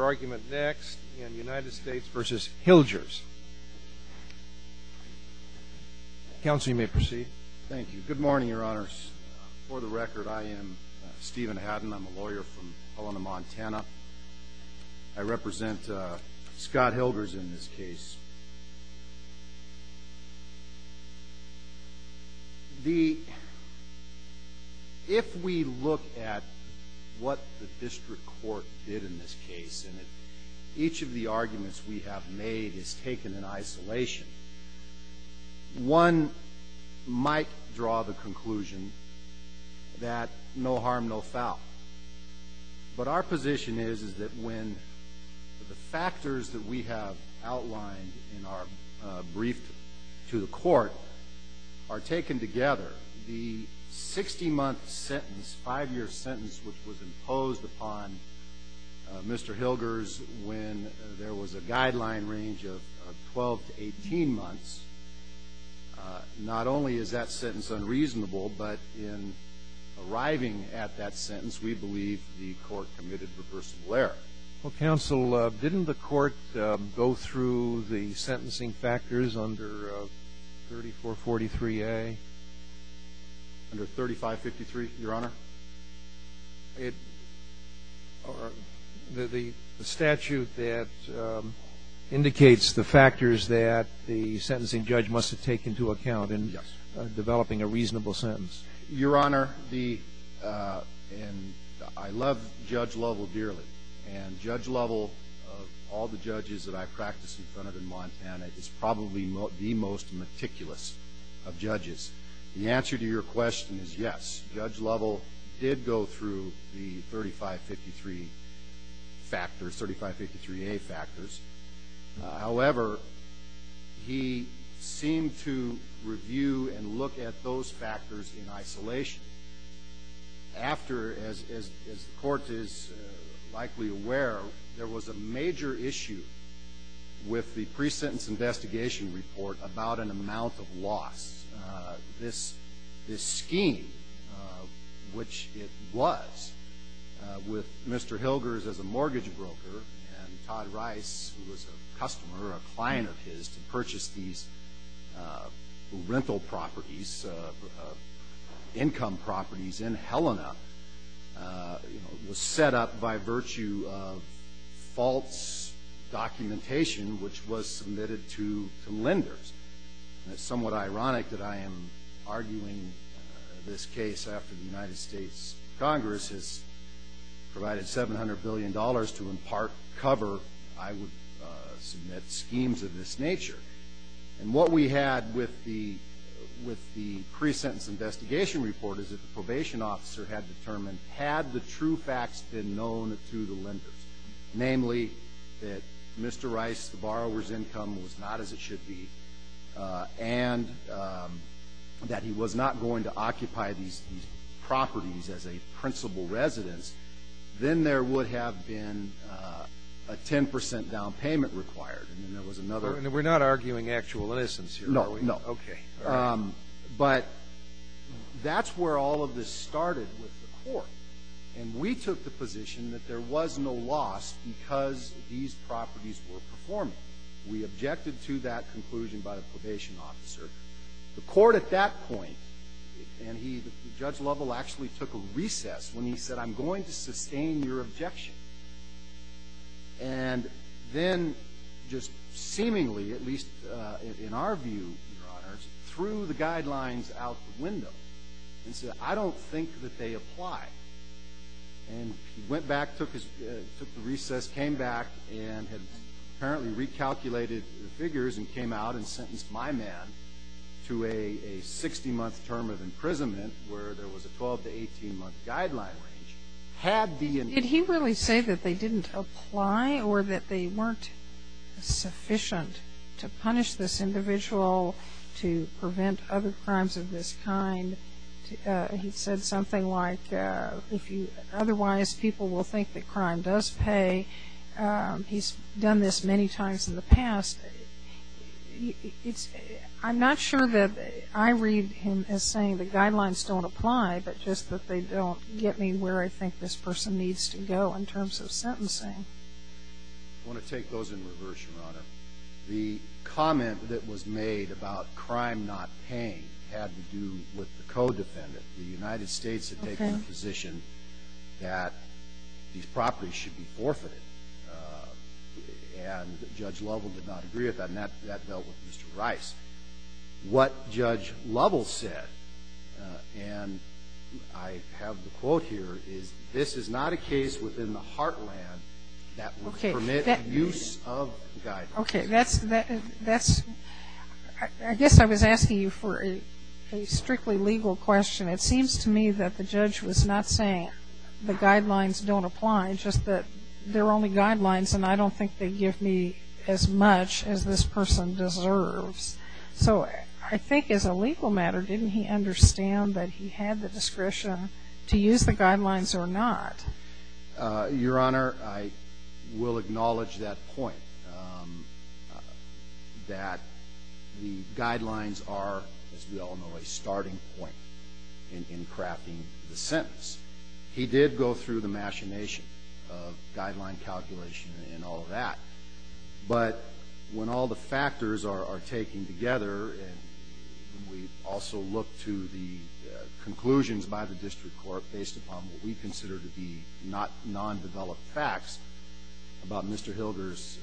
argument next in United States v. Hilgers. Counsel, you may proceed. Thank you. Good morning, Your Honors. For the record, I am Stephen Haddon. I'm a lawyer from Helena, Montana. I represent Scott Hilgers in this case. If we look at what the District Court did in this case, and each of the arguments we have made is taken in isolation, one might draw the conclusion that no harm, no foul. But our position is, is that when the factors that we have outlined in our brief to the Court are taken together, the 60-month sentence, this 5-year sentence which was imposed upon Mr. Hilgers when there was a guideline range of 12 to 18 months, not only is that sentence unreasonable, but in arriving at that sentence, we believe the Court committed reversible error. Well, Counsel, didn't the Court go through the sentencing factors under 3443A? Under 3553, Your Honor. The statute that indicates the factors that the sentencing judge must have taken into account in developing a reasonable sentence. Your Honor, the – and I love Judge Lovell dearly. And Judge Lovell of all the judges that I practice in front of in Montana is probably the most meticulous of judges. The answer to your question is yes. Judge Lovell did go through the 3553 factors, 3553A factors. However, he seemed to review and look at those factors in isolation. After, as the Court is likely aware, there was a major issue with the pre-sentence investigation report about an amount of loss. This scheme, which it was, with Mr. Hilgers as a mortgage broker and Todd Rice, who was a customer, a client of his, to purchase these rental properties, these income properties in Helena, was set up by virtue of false documentation, which was submitted to lenders. It's somewhat ironic that I am arguing this case after the United States Congress has provided $700 billion to impart cover I would submit schemes of this nature. And what we had with the pre-sentence investigation report is that the probation officer had determined, had the true facts been known to the lenders, namely that Mr. Rice, the borrower's income was not as it should be, and that he was not going to occupy these properties as a principal residence, then there would have been a 10 percent down payment required, and then there was another. And we're not arguing actual innocence here, are we? No, no. Okay. But that's where all of this started with the Court. And we took the position that there was no loss because these properties were performing. We objected to that conclusion by the probation officer. The Court at that point, and he, Judge Lovell actually took a recess when he said, I'm going to sustain your objection. And then just seemingly, at least in our view, Your Honors, threw the guidelines out the window and said, I don't think that they apply. And he went back, took his recess, came back and had apparently recalculated the figures and came out and sentenced my man to a 60-month term of imprisonment where there was a 12- to 18-month guideline range. He didn't say that they didn't apply or that they weren't sufficient to punish this individual, to prevent other crimes of this kind. He said something like, otherwise people will think that crime does pay. He's done this many times in the past. I'm not sure that I read him as saying the guidelines don't apply, but just that they don't get me where I think this person needs to go in terms of sentencing. I want to take those in reverse, Your Honor. The comment that was made about crime not paying had to do with the co-defendant. The United States had taken a position that these properties should be forfeited. And Judge Lovell did not agree with that. And that dealt with Mr. Rice. What Judge Lovell said, and I have the quote here, is this is not a case within the heartland that would permit the use of guidelines. Okay. That's, I guess I was asking you for a strictly legal question. It seems to me that the judge was not saying the guidelines don't apply, just that they're only guidelines and I don't think they give me as much as this person deserves. So I think as a legal matter, didn't he understand that he had the discretion to use the guidelines or not? Your Honor, I will acknowledge that point, that the guidelines are, as we all know, a starting point in crafting the sentence. He did go through the machination of guideline calculation and all of that. But when all the factors are taken together, and we also look to the conclusions by the district court based upon what we consider to be non-developed facts about Mr. Hilder's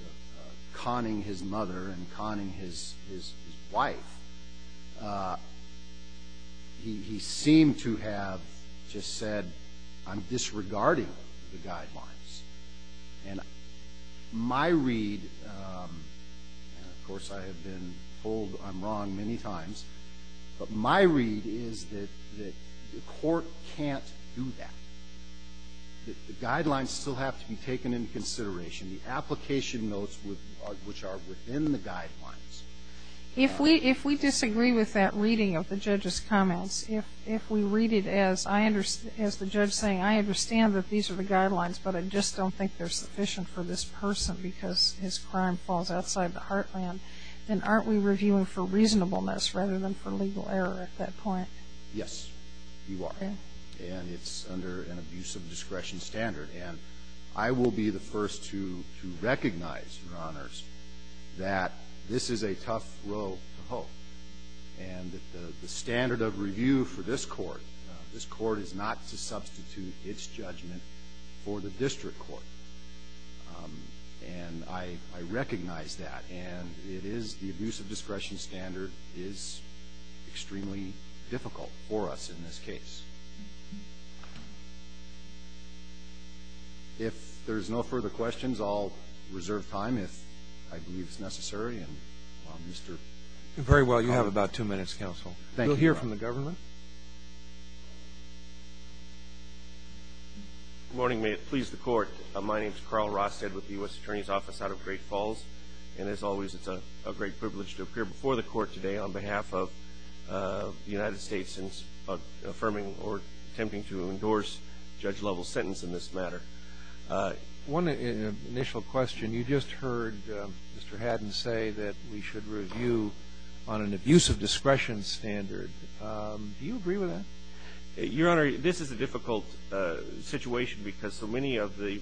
conning his mother and conning his wife, he seemed to have just said, I'm disregarding the guidelines and my read, and of course I have been told I'm wrong many times, but my read is that the court can't do that. The guidelines still have to be taken into consideration, the application notes which are within the guidelines. If we disagree with that reading of the judge's comments, if we read it as the judge saying, I understand that these are the guidelines, but I just don't think they're sufficient for this person because his crime falls outside the heartland, then aren't we reviewing for reasonableness rather than for legal error at that point? Yes, you are. And it's under an abuse of discretion standard. And I will be the first to recognize, Your Honors, that this is a tough row to hoe. And the standard of review for this court, this court is not to substitute its judgment for the district court. And I recognize that. And it is the abuse of discretion standard is extremely difficult for us in this case. If there's no further questions, I'll reserve time if I believe it's necessary. And Mr. Connell. Very well. You have about two minutes, counsel. Thank you, Your Honor. We'll hear from the government. Good morning. May it please the Court. My name is Carl Ross, head with the U.S. Attorney's Office out of Great Falls. And as always, it's a great privilege to appear before the Court today on behalf of the United States in affirming or attempting to endorse judge-level sentence in this matter. One initial question. You just heard Mr. Haddon say that we should review on an abuse-of-discretion standard. Do you agree with that? Your Honor, this is a difficult situation because so many of the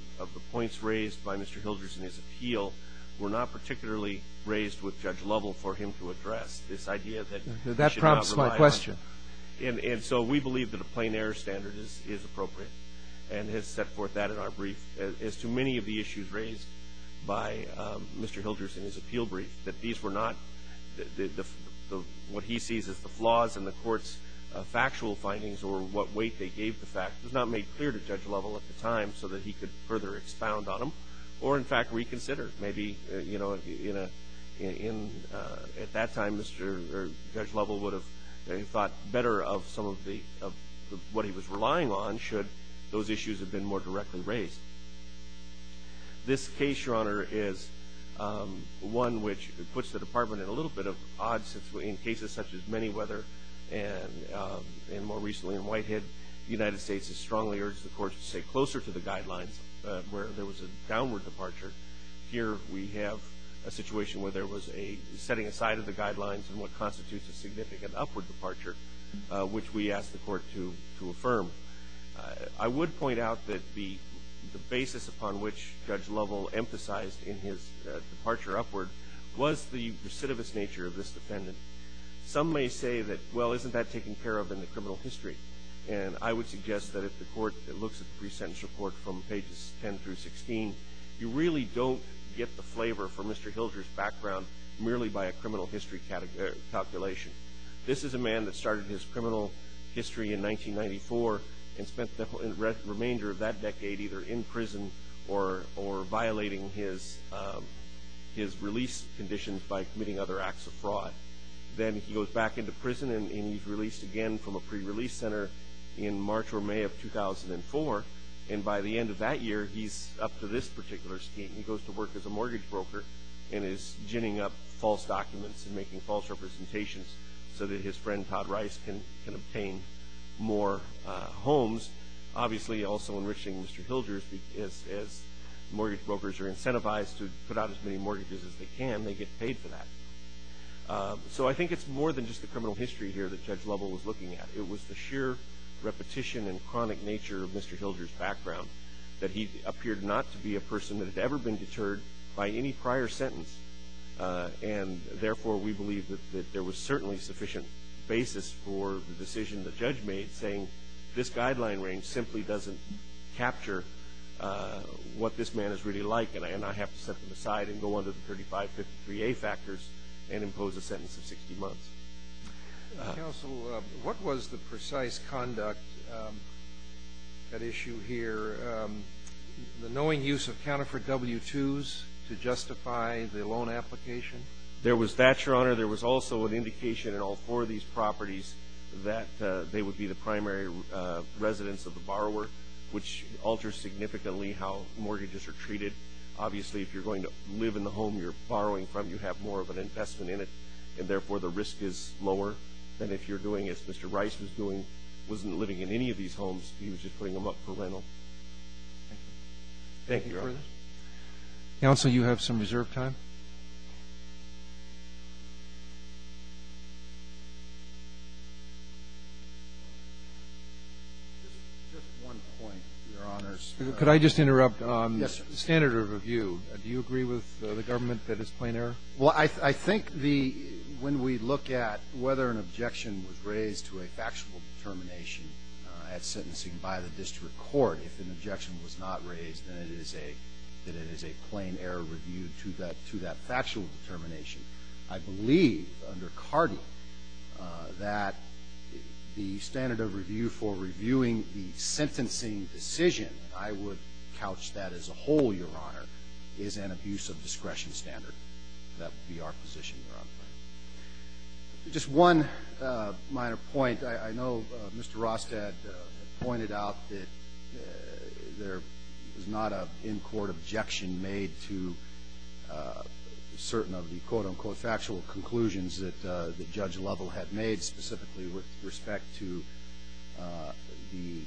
points raised by Mr. Hilderson in his appeal were not particularly raised with judge-level for him to address this idea that we should not rely on. That prompts my question. And so we believe that a plain-error standard is appropriate and has set forth that in our brief as to many of the issues raised by Mr. Hilderson in his appeal what he sees as the flaws in the Court's factual findings or what weight they gave the fact. It was not made clear to judge-level at the time so that he could further expound on them or, in fact, reconsider. Maybe at that time, judge-level would have thought better of what he was relying on should those issues have been more directly raised. This case, Your Honor, is one which puts the Department at a little bit of odds in cases such as Manyweather and more recently in Whitehead. The United States has strongly urged the Court to stay closer to the guidelines where there was a downward departure. Here we have a situation where there was a setting aside of the guidelines in what constitutes a significant upward departure, which we ask the Court to affirm. I would point out that the basis upon which judge-level emphasized in his departure upward was the recidivist nature of this defendant. Some may say that, well, isn't that taken care of in the criminal history? And I would suggest that if the Court looks at the pre-sentence report from pages 10 through 16, you really don't get the flavor from Mr. Hilder's background merely by a criminal history calculation. This is a man that started his criminal history in 1994 and spent the remainder of that decade either in prison or violating his release conditions by committing other acts of fraud. Then he goes back into prison and he's released again from a pre-release center in March or May of 2004. And by the end of that year, he's up to this particular scheme. He goes to work as a mortgage broker and is ginning up false documents and making false representations so that his friend Todd Rice can obtain more homes. Obviously, also enriching Mr. Hilder as mortgage brokers are incentivized to put out as many mortgages as they can, they get paid for that. So I think it's more than just the criminal history here that Judge Lovell was looking at. It was the sheer repetition and chronic nature of Mr. Hilder's background that he appeared not to be a person that had ever been deterred by any prior sentence. And therefore, we believe that there was certainly sufficient basis for the decision the judge made saying this guideline range simply doesn't capture what this man is really like and I have to set him aside and go under the 3553A factors and impose a sentence of 60 months. Counsel, what was the precise conduct at issue here, the knowing use of counterfeit W-2s to justify the loan application? There was that, Your Honor. Your Honor, there was also an indication in all four of these properties that they would be the primary residence of the borrower, which alters significantly how mortgages are treated. Obviously, if you're going to live in the home you're borrowing from, you have more of an investment in it, and therefore the risk is lower. And if you're doing as Mr. Rice was doing, wasn't living in any of these homes, he was just putting them up for rental. Thank you, Your Honor. Counsel, you have some reserved time. Just one point, Your Honors. Could I just interrupt? Yes, sir. Standard of review, do you agree with the government that it's plain error? Well, I think the ñ when we look at whether an objection was raised to a factual determination at sentencing by the district court, if an objection was not raised, then it is a plain error review to that factual determination. I believe under CARDI that the standard of review for reviewing the sentencing decision, and I would couch that as a whole, Your Honor, is an abuse of discretion standard. That would be our position, Your Honor. Just one minor point. I think I know Mr. Rostad pointed out that there is not an in-court objection made to certain of the, quote, unquote, factual conclusions that Judge Lovell had made, specifically with respect to the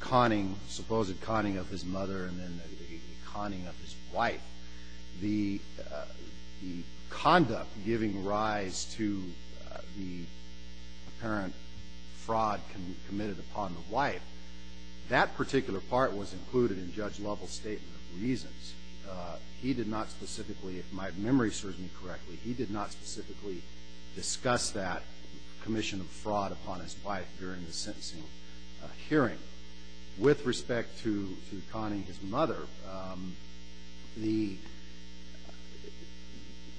conning, supposed conning of his mother and then the conning of his wife. The conduct giving rise to the apparent fraud committed upon the wife, that particular part was included in Judge Lovell's statement of reasons. He did not specifically, if my memory serves me correctly, he did not specifically discuss that commission of fraud upon his wife during the sentencing hearing. But with respect to conning his mother,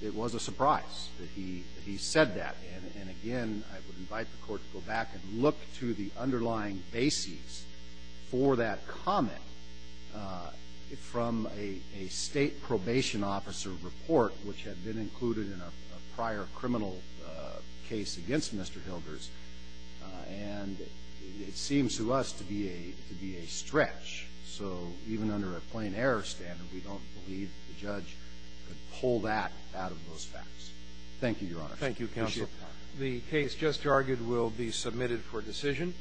it was a surprise that he said that. And again, I would invite the court to go back and look to the underlying basis for that comment from a state probation officer report, which had been included in a prior criminal case against Mr. Hilders. And it seems to us to be a stretch. So even under a plain error standard, we don't believe the judge could pull that out of those facts. Thank you, Your Honor. Thank you, Counsel. The case just argued will be submitted for decision.